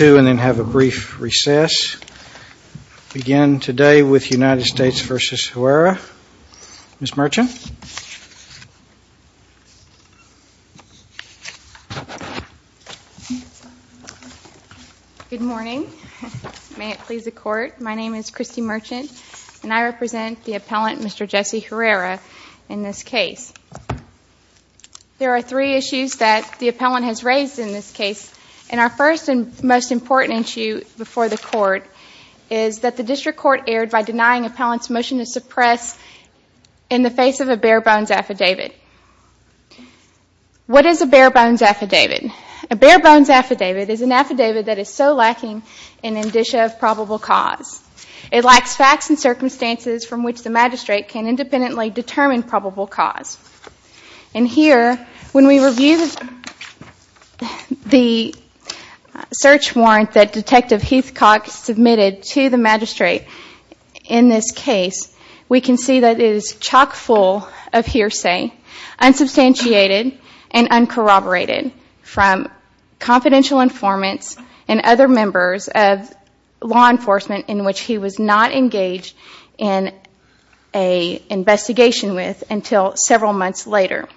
and then have a brief recess. Begin today with United States v. Huerra. Ms. Merchant. Good morning. May it please the Court, my name is Christy Merchant and I represent the appellant Mr. Jesse Huerra in this case. There are three issues that the appellant has raised in this case and our first and most important issue before the Court is that the District Court erred by denying the appellant's motion to suppress in the face of a bare bones affidavit. What is a bare bones affidavit? A bare bones affidavit is an affidavit that is so lacking in indicia of probable cause. It lacks facts and circumstances from which the magistrate can independently determine probable cause. Here, when we review the search warrant that Detective Heathcock submitted to the magistrate in this case, we can see that it is chock full of hearsay, unsubstantiated and uncorroborated from confidential informants and other members of law enforcement in which he was not engaged in an investigation with until several months later.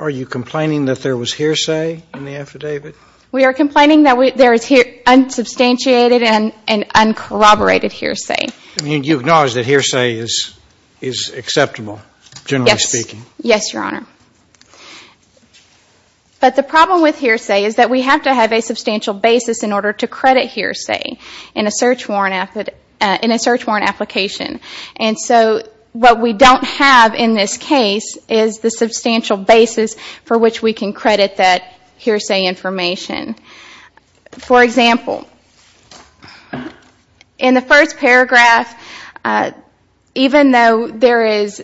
Are you complaining that there was hearsay in the affidavit? We are complaining that there is unsubstantiated and uncorroborated hearsay. You acknowledge that hearsay is acceptable generally speaking? Yes, Your Honor. But the problem with hearsay is that we have to have a substantial basis in order to credit hearsay in a search warrant application. What we don't have in this case is the substantial basis for which we can credit that hearsay information. For example, in the first paragraph, even though there is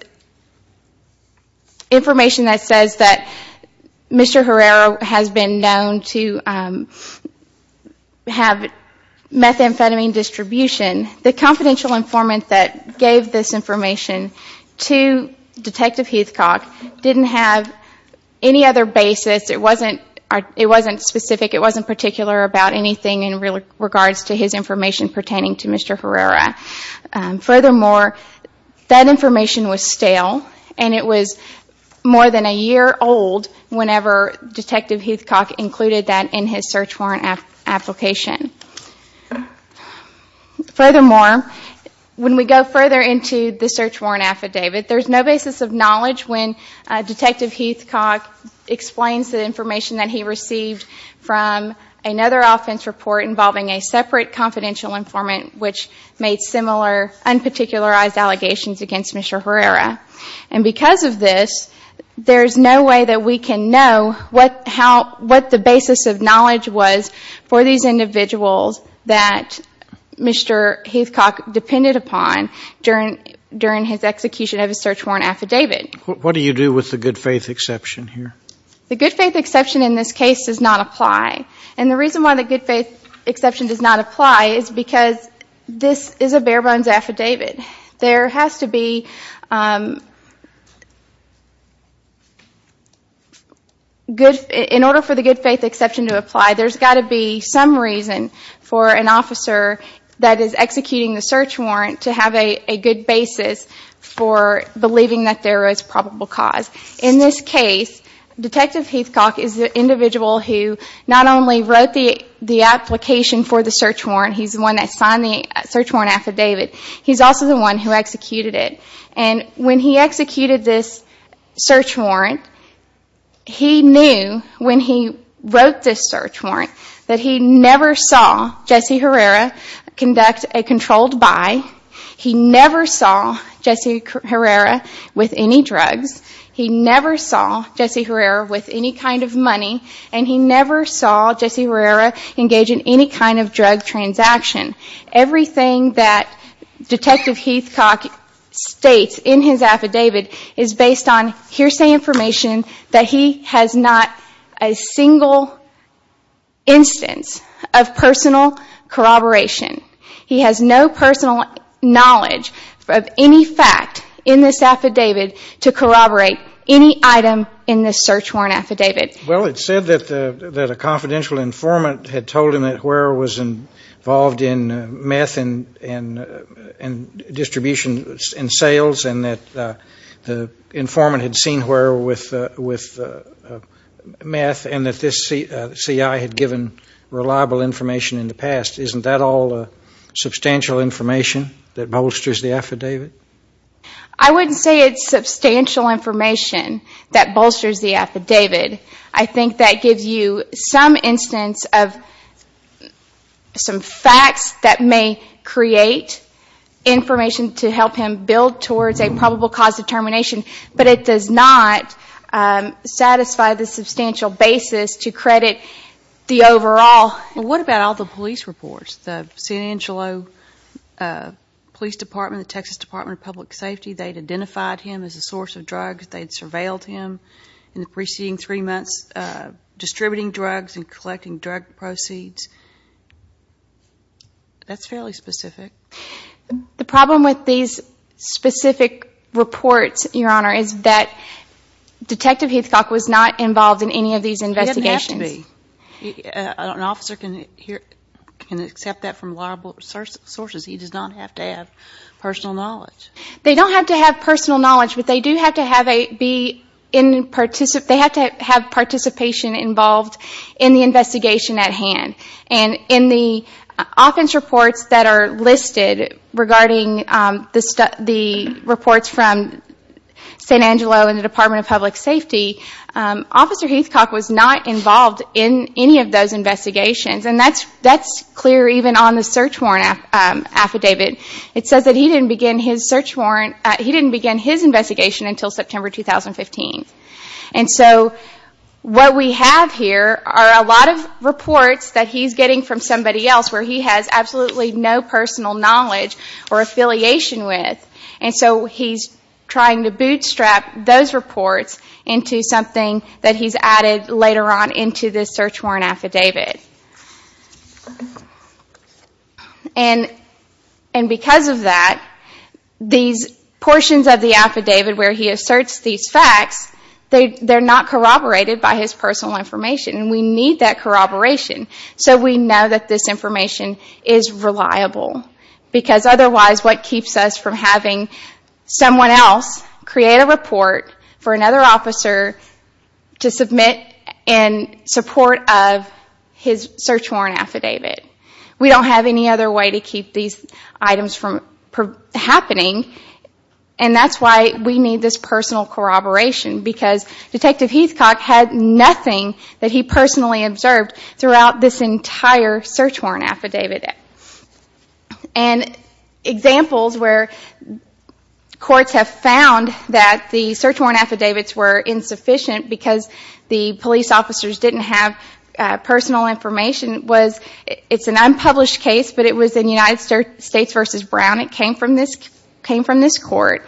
information that says that we have methamphetamine distribution, the confidential informant that gave this information to Detective Heathcock didn't have any other basis. It wasn't specific. It wasn't particular about anything in regards to his information pertaining to Mr. Herrera. Furthermore, that information was stale and it was more than a year old whenever Detective Heathcock included that in his search warrant application. Furthermore, when we go further into the search warrant affidavit, there is no basis of knowledge when Detective Heathcock explains the information that he received from another offense report involving a separate confidential informant which made similar unparticularized allegations against Mr. Herrera. Because of this, there is no basis of knowledge for these individuals that Mr. Heathcock depended upon during his execution of his search warrant affidavit. What do you do with the good faith exception here? The good faith exception in this case does not apply. The reason why the good faith exception does not apply is because this is a bare bones affidavit. In order for the good faith exception to apply, there has got to be some reason for an officer that is executing the search warrant to have a good basis for believing that there is probable cause. In this case, Detective Heathcock is the individual who not only wrote the application for the search warrant, he is the one that signed the search warrant affidavit, he is also the one who executed it. When he executed this search warrant, he knew when he wrote this search warrant that he never saw Jesse Herrera conduct a controlled buy, he never saw Jesse Herrera with any drugs, he never saw Jesse Herrera with any kind of money, and he never saw Jesse Herrera engage in any kind of drug transaction. Everything that Detective Heathcock states in his affidavit is based on hearsay information that he has not a single instance of personal corroboration. He has no personal knowledge of any fact in this affidavit to corroborate any item in this search warrant affidavit. Well it is said that a confidential informant had told him that Herrera was involved in meth and distribution in sales and that the informant had seen Herrera with meth and that this CI had given reliable information in the past. Isn't that all substantial information that bolsters the affidavit? I wouldn't say it is substantial information that bolsters the affidavit. I think that gives you some instance of some facts that may create information to help him build towards a probable cause determination, but it does not satisfy the substantial basis to credit the overall. What about all the police reports? The San Angelo Police Department, the Texas Department of Public Safety, they had identified him as a source of drugs, they had surveilled him in the preceding three months distributing drugs and collecting drug proceeds. That's fairly specific. The problem with these specific reports, Your Honor, is that Detective Heathcock was not involved in any of these investigations. He didn't have to be. An officer can accept that from reliable sources. He does not have to have personal knowledge. They don't have to have personal knowledge, but they do have to have participation involved in the investigation at hand. In the offense reports that are listed regarding the reports from San Angelo and the Department of Public Safety, Officer Heathcock was not involved in any of those investigations. That's clear even on the search warrant affidavit. It says that he didn't begin his investigation until September 2015. What we have here are a lot of reports that he's getting from somebody else where he has absolutely no personal knowledge or affiliation with. He's trying to bootstrap those reports into something that he's added later on into this search warrant affidavit. Because of that, these portions of the affidavit where he asserts these facts are not corroborated by his personal information. We need that corroboration so we know that this information is reliable. Otherwise, what keeps us from having someone else create a report for another search warrant affidavit? We don't have any other way to keep these items from happening, and that's why we need this personal corroboration. Detective Heathcock had nothing that he personally observed throughout this entire search warrant affidavit. Examples where courts have found that the search warrant affidavits were insufficient because the police officers didn't have personal information is an unpublished case, but it was in United States v. Brown. It came from this court.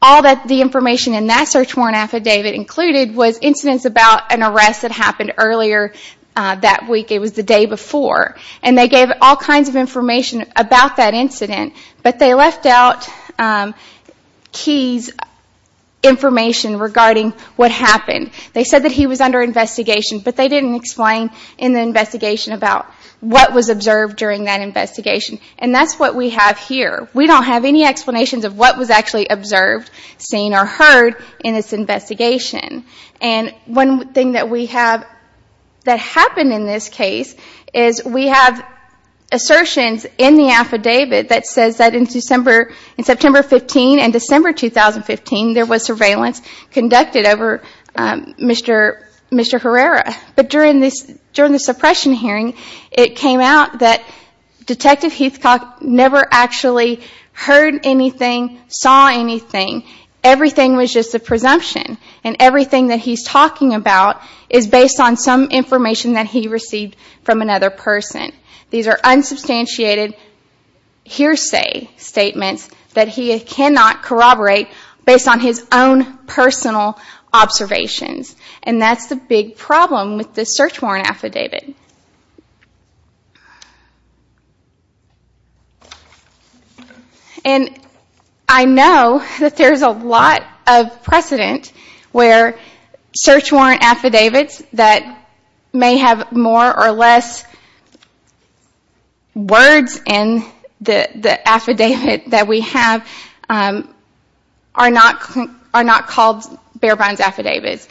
All the information in that search warrant affidavit included was incidents about an arrest that happened earlier that week. It was the day before. They gave all kinds of information about that incident, but they didn't give his information regarding what happened. They said that he was under investigation, but they didn't explain in the investigation about what was observed during that investigation, and that's what we have here. We don't have any explanations of what was actually observed, seen or heard in this investigation. One thing that happened in this case is we have assertions in the affidavit that says that in September 15 and December 2015, there was surveillance conducted over Mr. Herrera, but during the suppression hearing, it came out that Detective Heathcock never actually heard anything, saw anything. Everything was just a presumption, and everything that he's talking about is based on some information that he received from another person. These are unsubstantiated hearsay statements that he cannot corroborate based on his own personal observations, and that's the big problem with this search warrant affidavit. I know that there's a lot of precedent where search warrant affidavits that may have more or less words in the affidavit that we have are not called bare-bones affidavits.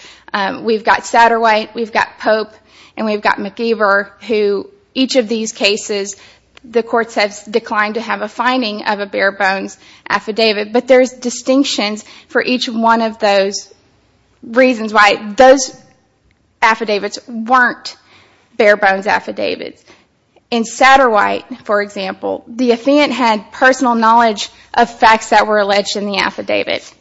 We've got Satterwhite, we've got Pope, and we've got McIver, who each of these cases the courts have declined to have a finding of a bare-bones affidavit, but there's distinctions for each one of those reasons why those affidavits weren't bare-bones affidavits. In Satterwhite, for example, the defendant had personal knowledge of facts that were alleged in the affidavit.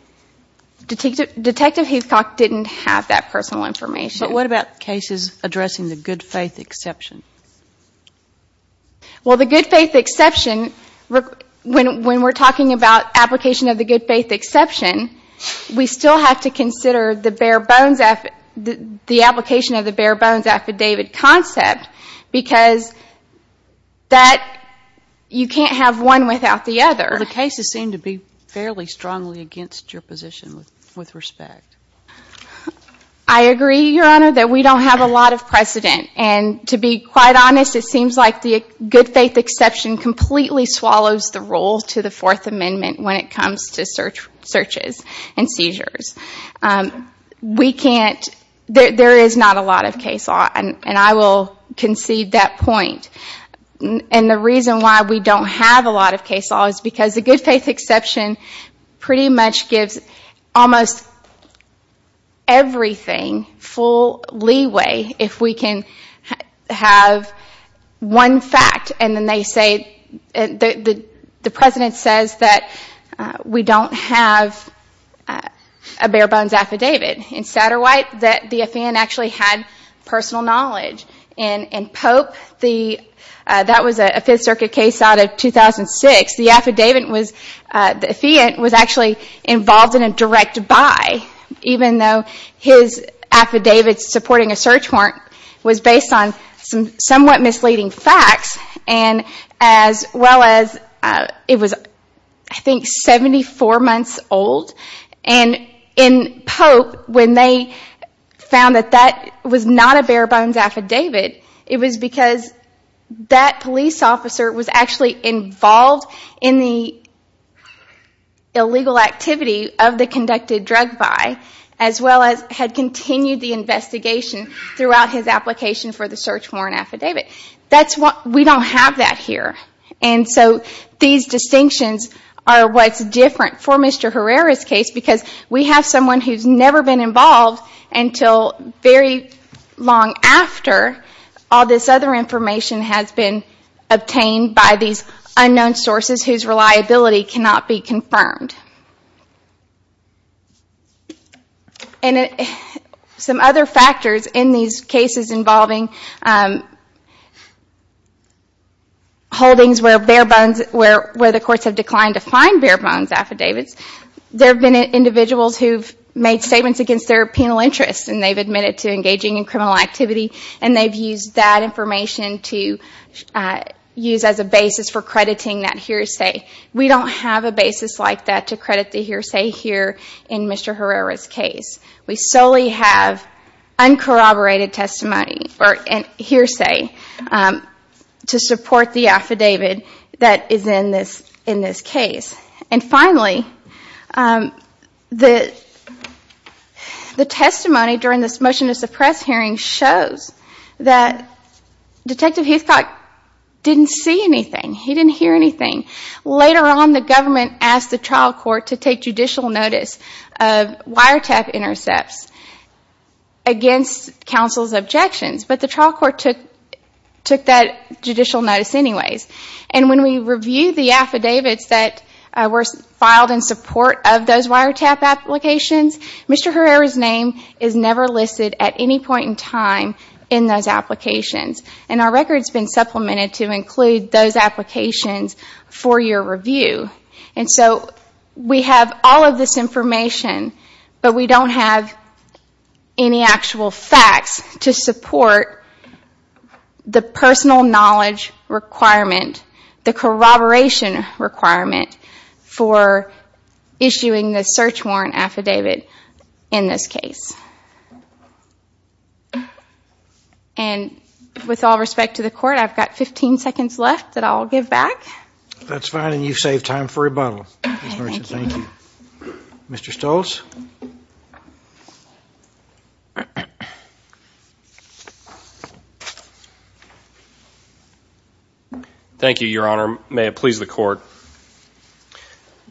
Detective Heathcock didn't have that personal information. But what about cases addressing the good faith exception? Well, the good faith exception, when we're talking about application of the good faith exception, we still have to consider the application of the bare-bones affidavit concept, because that you can't have one without the other. The cases seem to be fairly strongly against your position with respect. I agree, Your Honor, that we don't have a lot of precedent. And to be quite honest, it seems like the good faith exception completely swallows the role to the Fourth Amendment when it comes to searches and seizures. There is not a lot of case law, and I will concede that point. And the reason why we don't have a lot of case law is because the good faith exception pretty much gives almost everything, full leeway, if we can have one fact and then they say, the President says that we don't have a bare-bones affidavit. In Satterwhite, the defendant actually had personal knowledge. In Pope, that was a Fifth Amendment. The defendant was actually involved in a direct buy, even though his affidavit supporting a search warrant was based on some somewhat misleading facts, as well as it was I think 74 months old. And in Pope, when they found that that was not a bare-bones affidavit, it was because that police officer was actually involved in the illegal activity of the conducted drug buy, as well as had continued the investigation throughout his application for the search warrant affidavit. We don't have that here. And so these distinctions are what's different for Mr. Herrera's case, because we have someone who's never been involved until very long after all this other information has been obtained by these unknown sources whose reliability cannot be confirmed. And some other factors in these cases involving holdings where the courts have declined to find bare-bones affidavits, there have been individuals who've made statements against their penal interests, and they've admitted to engaging in criminal activity, and they've used that information to use as a basis for crediting that hearsay. We don't have a basis like that to credit the hearsay here in Mr. Herrera's case. We solely have uncorroborated testimony and hearsay to support the affidavit that is in this case. And finally, the testimony during this motion to suppress hearing shows that Detective Heathcock didn't see anything. He didn't hear anything. Later on, the government asked the trial court to take judicial notice of wiretap intercepts against counsel's objections, but the trial court filed in support of those wiretap applications. Mr. Herrera's name is never listed at any point in time in those applications, and our record's been supplemented to include those applications for your review. And so we have all of this information, but we don't have any actual facts to support the personal knowledge requirement, the corroboration requirement, for issuing the search warrant affidavit in this case. And with all respect to the Court, I've got 15 seconds left that I'll give back. That's fine, and you've saved time for rebuttal, Ms. Murchin. Thank you. Mr. Stoltz? Thank you, Your Honor. May it please the Court.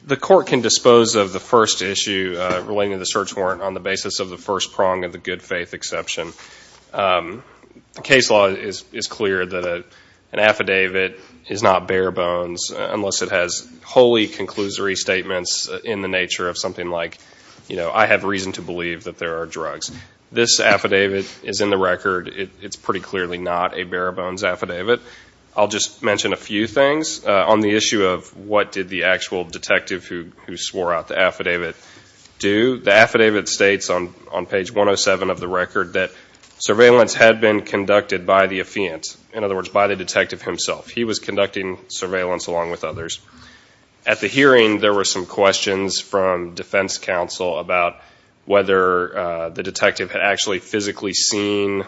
The Court can dispose of the first issue relating to the search warrant on the basis of the first prong of the good faith exception. The case law is clear that an affidavit is not bare bones unless it has wholly conclusory statements in the nature of something like, you know, I have reason to believe that there are drugs. This affidavit is in the record. It's pretty clearly not a bare bones affidavit. I'll just mention a few things. On the issue of what did the actual detective who swore out the affidavit do, the affidavit states on page 107 of the record that surveillance had been conducted by the affiant, in other words by the detective himself. He was conducting surveillance along with others. At the hearing, there were some questions from defense counsel about whether the detective had actually physically seen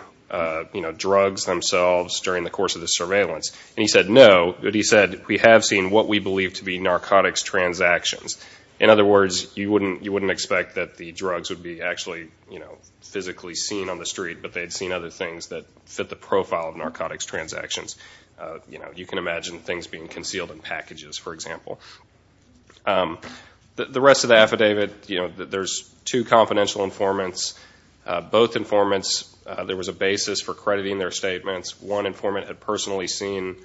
drugs themselves during the course of the surveillance. And he said no, but he said we have seen what we believe to be narcotics transactions. In other words, you wouldn't expect that the drugs would be actually, you know, physically seen on the street, but they'd seen other things that fit the profile of narcotics transactions. You know, you can The rest of the affidavit, you know, there's two confidential informants. Both informants, there was a basis for crediting their statements. One informant had personally seen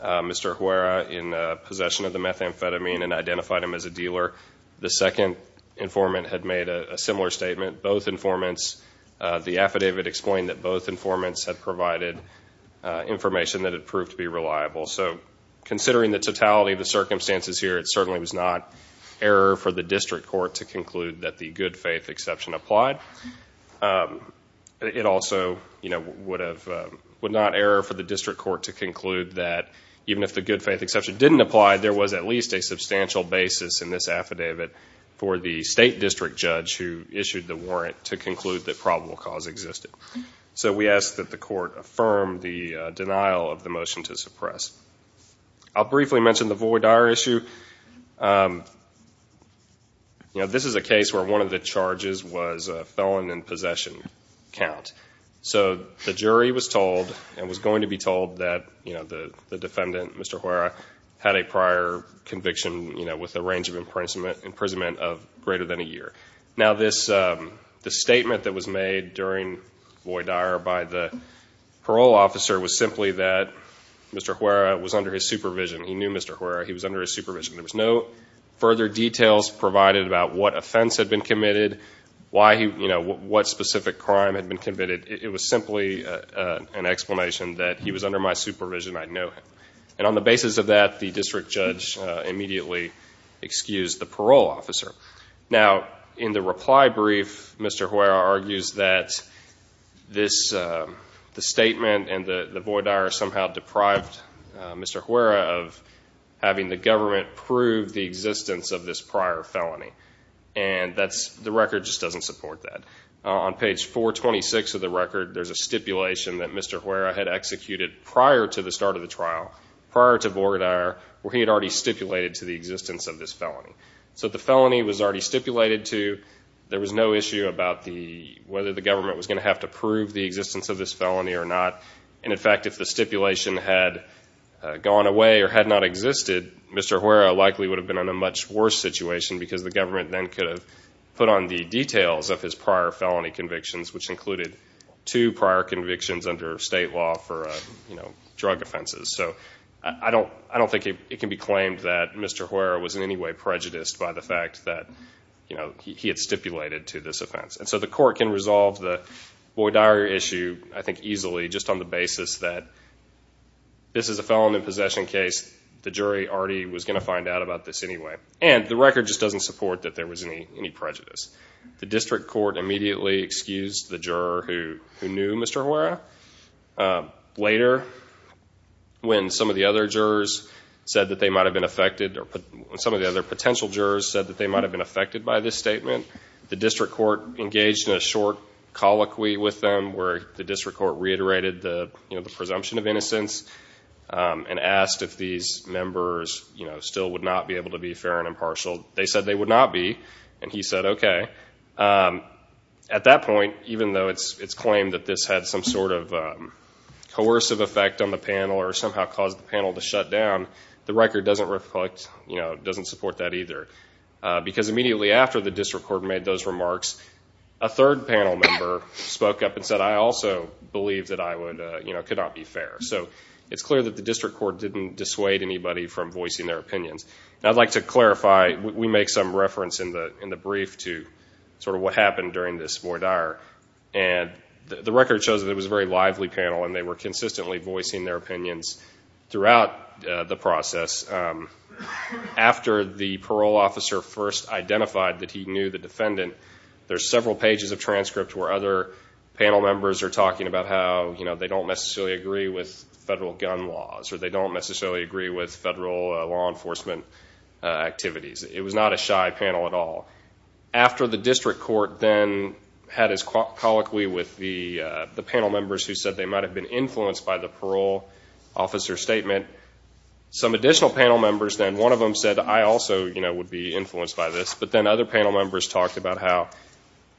Mr. Huera in possession of the methamphetamine and identified him as a dealer. The second informant had made a similar statement. Both informants, the affidavit explained that both informants had provided information that had proved to be reliable. So considering the totality of circumstances here, it certainly was not error for the district court to conclude that the good faith exception applied. It also, you know, would not error for the district court to conclude that even if the good faith exception didn't apply, there was at least a substantial basis in this affidavit for the state district judge who issued the warrant to conclude that probable cause existed. So we ask that the court affirm the denial of the motion to suppress. I'll briefly mention the Voy Dyer issue. You know, this is a case where one of the charges was a felon in possession count. So the jury was told and was going to be told that, you know, the defendant, Mr. Huera, had a prior conviction, you know, with a range of imprisonment of greater than a year. Now this statement that was made during Voy Dyer by the parole officer was simply that Mr. Huera was under his supervision. He knew Mr. Huera. He was under his supervision. There was no further details provided about what offense had been committed, why he, you know, what specific crime had been committed. It was simply an explanation that he was under my supervision. I know him. And on the basis of that, the district judge immediately excused the parole officer. Now in the reply brief, Mr. Huera argues that this statement and the Voy Dyer somehow deprived Mr. Huera of having the government prove the existence of this prior felony. And the record just doesn't support that. On page 426 of the record, there's a stipulation that Mr. Huera had executed prior to the start of the trial, prior to Voy Dyer, where he had already stipulated to the existence of this felony. So the felony was already stipulated to. There was no issue about whether the government was going to have to prove the existence of this felony or not. And in fact, if the stipulation had gone away or had not existed, Mr. Huera likely would have been in a much worse situation because the government then could have put on the details of his prior felony convictions, which included two prior convictions under state law for, you know, drug offenses. So I don't think it can be claimed that Mr. Huera was in any way prejudiced by the fact that, you know, he had stipulated to this offense. And so the court can resolve the Voy Dyer issue, I think easily, just on the basis that this is a felony possession case. The jury already was going to find out about this anyway. And the record just doesn't support that there was any prejudice. The district court immediately excused the juror who knew Mr. Huera. Later, when some of the other jurors said that they might have been affected by this statement, the district court engaged in a short colloquy with them where the district court reiterated the presumption of innocence and asked if these members still would not be able to be fair and impartial. They said they would not be and he said okay. At that point, even though it's claimed that this had some sort of coercive effect on the panel or somehow caused the panel to shut down, the record doesn't support that either. Because immediately after the district court made those remarks, a third panel member spoke up and said I also believe that I could not be fair. So it's clear that the district court didn't dissuade anybody from voicing their opinions. And I'd like to clarify, we make some reference in the brief to sort of what happened during this Voy Dyer. And the record shows that it was a very lively panel and they were consistently voicing their opinions throughout the process. After the parole officer first identified that he knew the defendant, there's several pages of transcripts where other panel members are talking about how they don't necessarily agree with federal gun laws or they don't necessarily agree with federal law enforcement activities. It was not a shy panel at all. After the district court then had his colloquy with the panel members who said they might have been influenced by the parole officer's statement, some additional panel members then, one of them said I also would be influenced by this. But then other panel members talked about how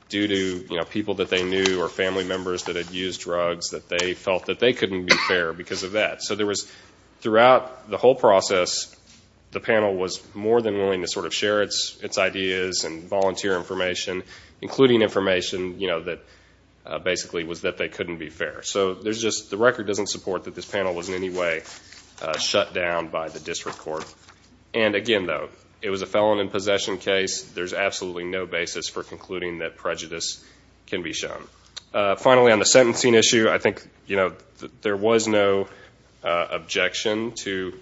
due to people that they knew or family members that had used drugs, that they felt that they couldn't be fair because of that. So there was, throughout the whole process, the panel was more than willing to sort of share its ideas and volunteer information, including information that basically was that they couldn't be fair. So there's just, the record doesn't support that this panel was in any way shut down by the district court. And again though, it was a felon in possession case. There's absolutely no basis for concluding that prejudice can be shown. Finally on the sentencing issue, I think there was no objection to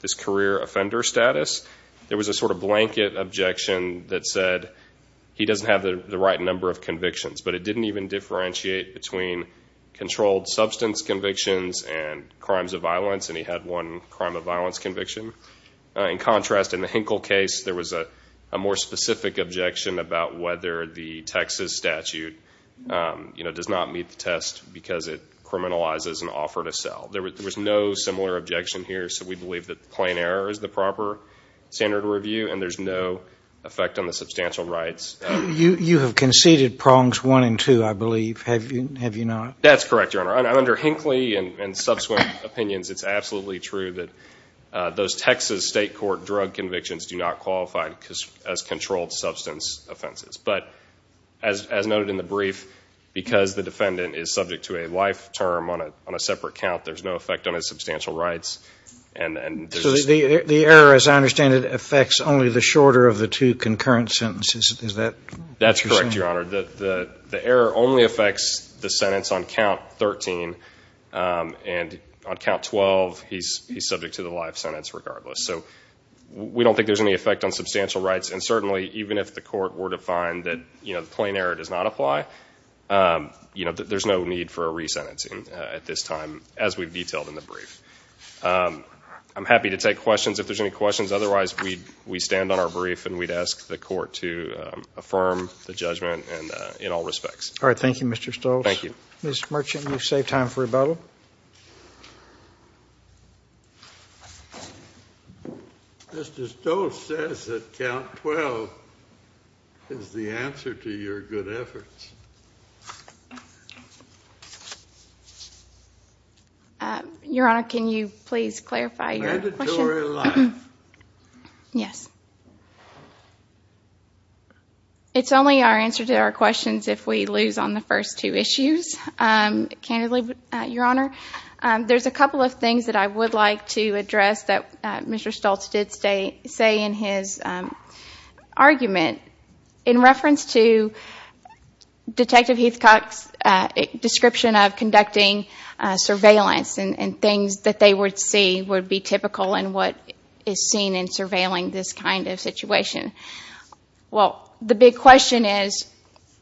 this career offender status. There was a sort of blanket objection that said he doesn't have the right number of convictions. But it didn't even differentiate between controlled substance convictions and crimes of violence. And he had one crime of violence conviction. In contrast, in the Hinkle case, there was a more specific objection about whether the Texas statute does not meet the test because it criminalizes an offer to sell. There was no similar objection here. So we believe that plain error is the proper standard of review and there's no effect on the substantial rights. You have conceded prongs one and two, I believe, have you not? That's correct, Your Honor. Under Hinkley and subsequent opinions, it's absolutely true that those Texas state court drug convictions do not qualify as controlled substance offenses. But as noted in the brief, because the defendant is subject to a life term on a separate count, there's no effect on his substantial rights. The error, as I understand it, affects only the shorter of the two concurrent sentences. That's correct, Your Honor. The error only affects the sentence on count 13. And on count 12, he's subject to the life sentence regardless. So we don't think there's any effect on substantial rights. And certainly, even if the court were to find that plain error does not apply, there's no need for a resentencing at this time, as we've detailed in the brief. I'm happy to take questions if there's any questions. Otherwise, we stand on our brief and we'd ask the court to affirm the judgment in all respects. All right. Thank you, Mr. Stoltz. Thank you. Mr. Merchant, you've saved time for rebuttal. Mr. Stoltz says that count 12 is the answer to your good efforts. Your Honor, can you please clarify your question? Mandatory life. Yes. It's only our answer to our questions if we lose on the first two issues, candidly, Your Honor. There's a couple of things that I would like to address that Mr. Stoltz did say in his argument in reference to Detective Heathcock's description of conducting surveillance and things that they would see would be typical in what is seen in surveilling this kind of situation. Well, the big question is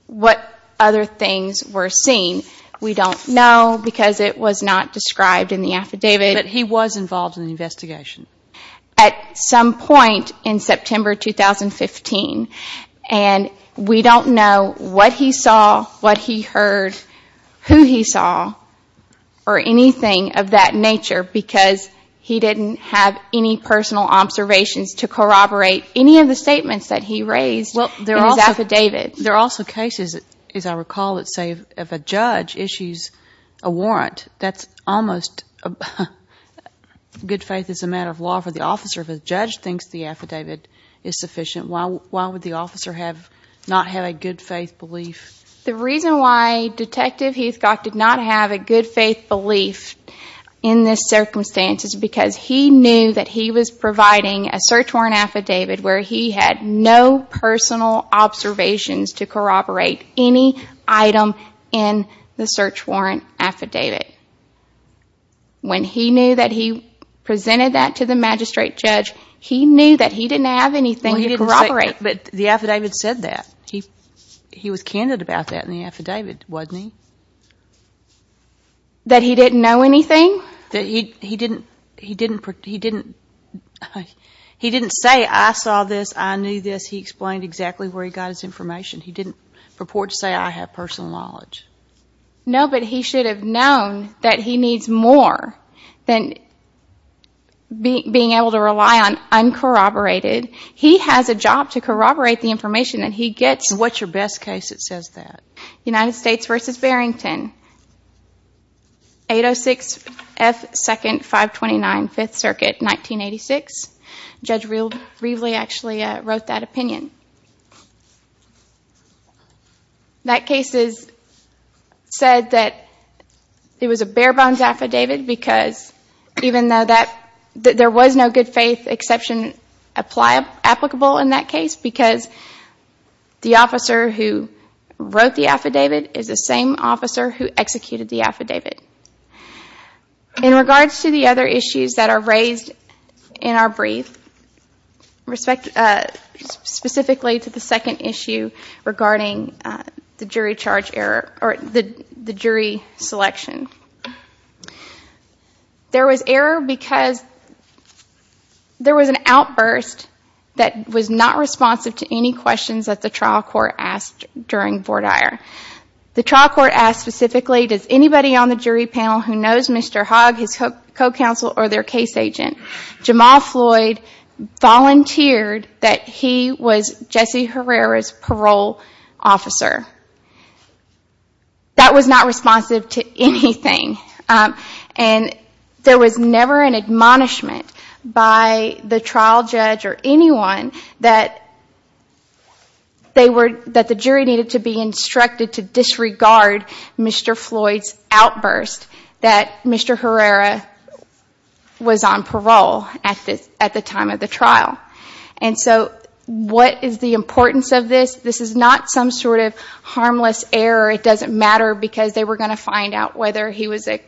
what other things were seen. We don't know because it was not described in the affidavit. But he was involved in the investigation. At some point in September 2015, and we don't know what he saw, what he heard, who he saw, or anything of that nature because he didn't have any personal observations to corroborate any of the statements that he raised in his affidavit. There are also cases, as I recall, that say if a judge issues a warrant, that's almost good faith as a matter of law for the officer. If a judge thinks the affidavit is sufficient, why would the officer not have a good faith belief? The reason why Detective Heathcock did not have a good faith belief in this circumstance is because he knew that he was providing a search warrant affidavit where he had no personal observations to corroborate any item in the search warrant affidavit. When he knew that he presented that to the magistrate judge, he knew that he didn't have anything to corroborate. But the affidavit said that. He was candid about that in the affidavit, wasn't he? That he didn't know anything? He didn't say, I saw this, I knew this. He explained exactly where he got his information. He didn't purport to say, I have personal knowledge. No, but he should have known that he needs more than being able to rely on uncorroborated. He has a job to corroborate the information that he gets. What's your best case that says that? United States v. Barrington, 806 F. 2nd, 529, 5th Circuit, 1986. Judge Reveley actually wrote that opinion. That case said that it was a bare bones affidavit because even though there was no good faith exception applicable in that case, because the officer who wrote the affidavit is the same officer who executed the affidavit. In regards to the other issues that are raised in our brief, specifically to the second issue regarding the jury selection. There was error because there was an outburst that was not responsive to any questions that the trial court asked during Vortire. The trial court asked specifically, does anybody on the jury panel who knows Mr. Hogg, his co-counsel, or their case agent, Jamal Floyd, volunteered that he was Jesse Herrera's parole officer? That was not responsive to anything. There was never an admonishment by the trial judge or anyone that the jury needed to be instructed to disregard Mr. Floyd's outburst that Mr. Herrera was on parole at the time of the trial. So what is the importance of this? This is not some sort of harmless error. It doesn't matter because they were going to find out whether he was a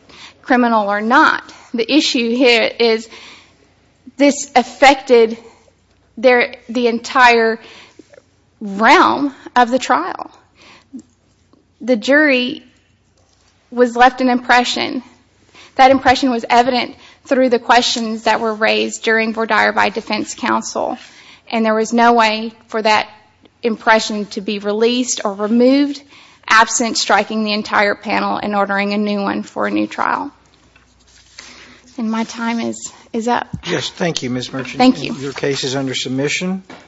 criminal or not. The issue here is this affected the entire realm of the trial. The jury was left an impression. That impression was evident through the questions that were raised during Vortire by defense counsel. There was no way for that impression to be released or removed absent striking the entire panel and ordering a new one for a new trial. My time is up.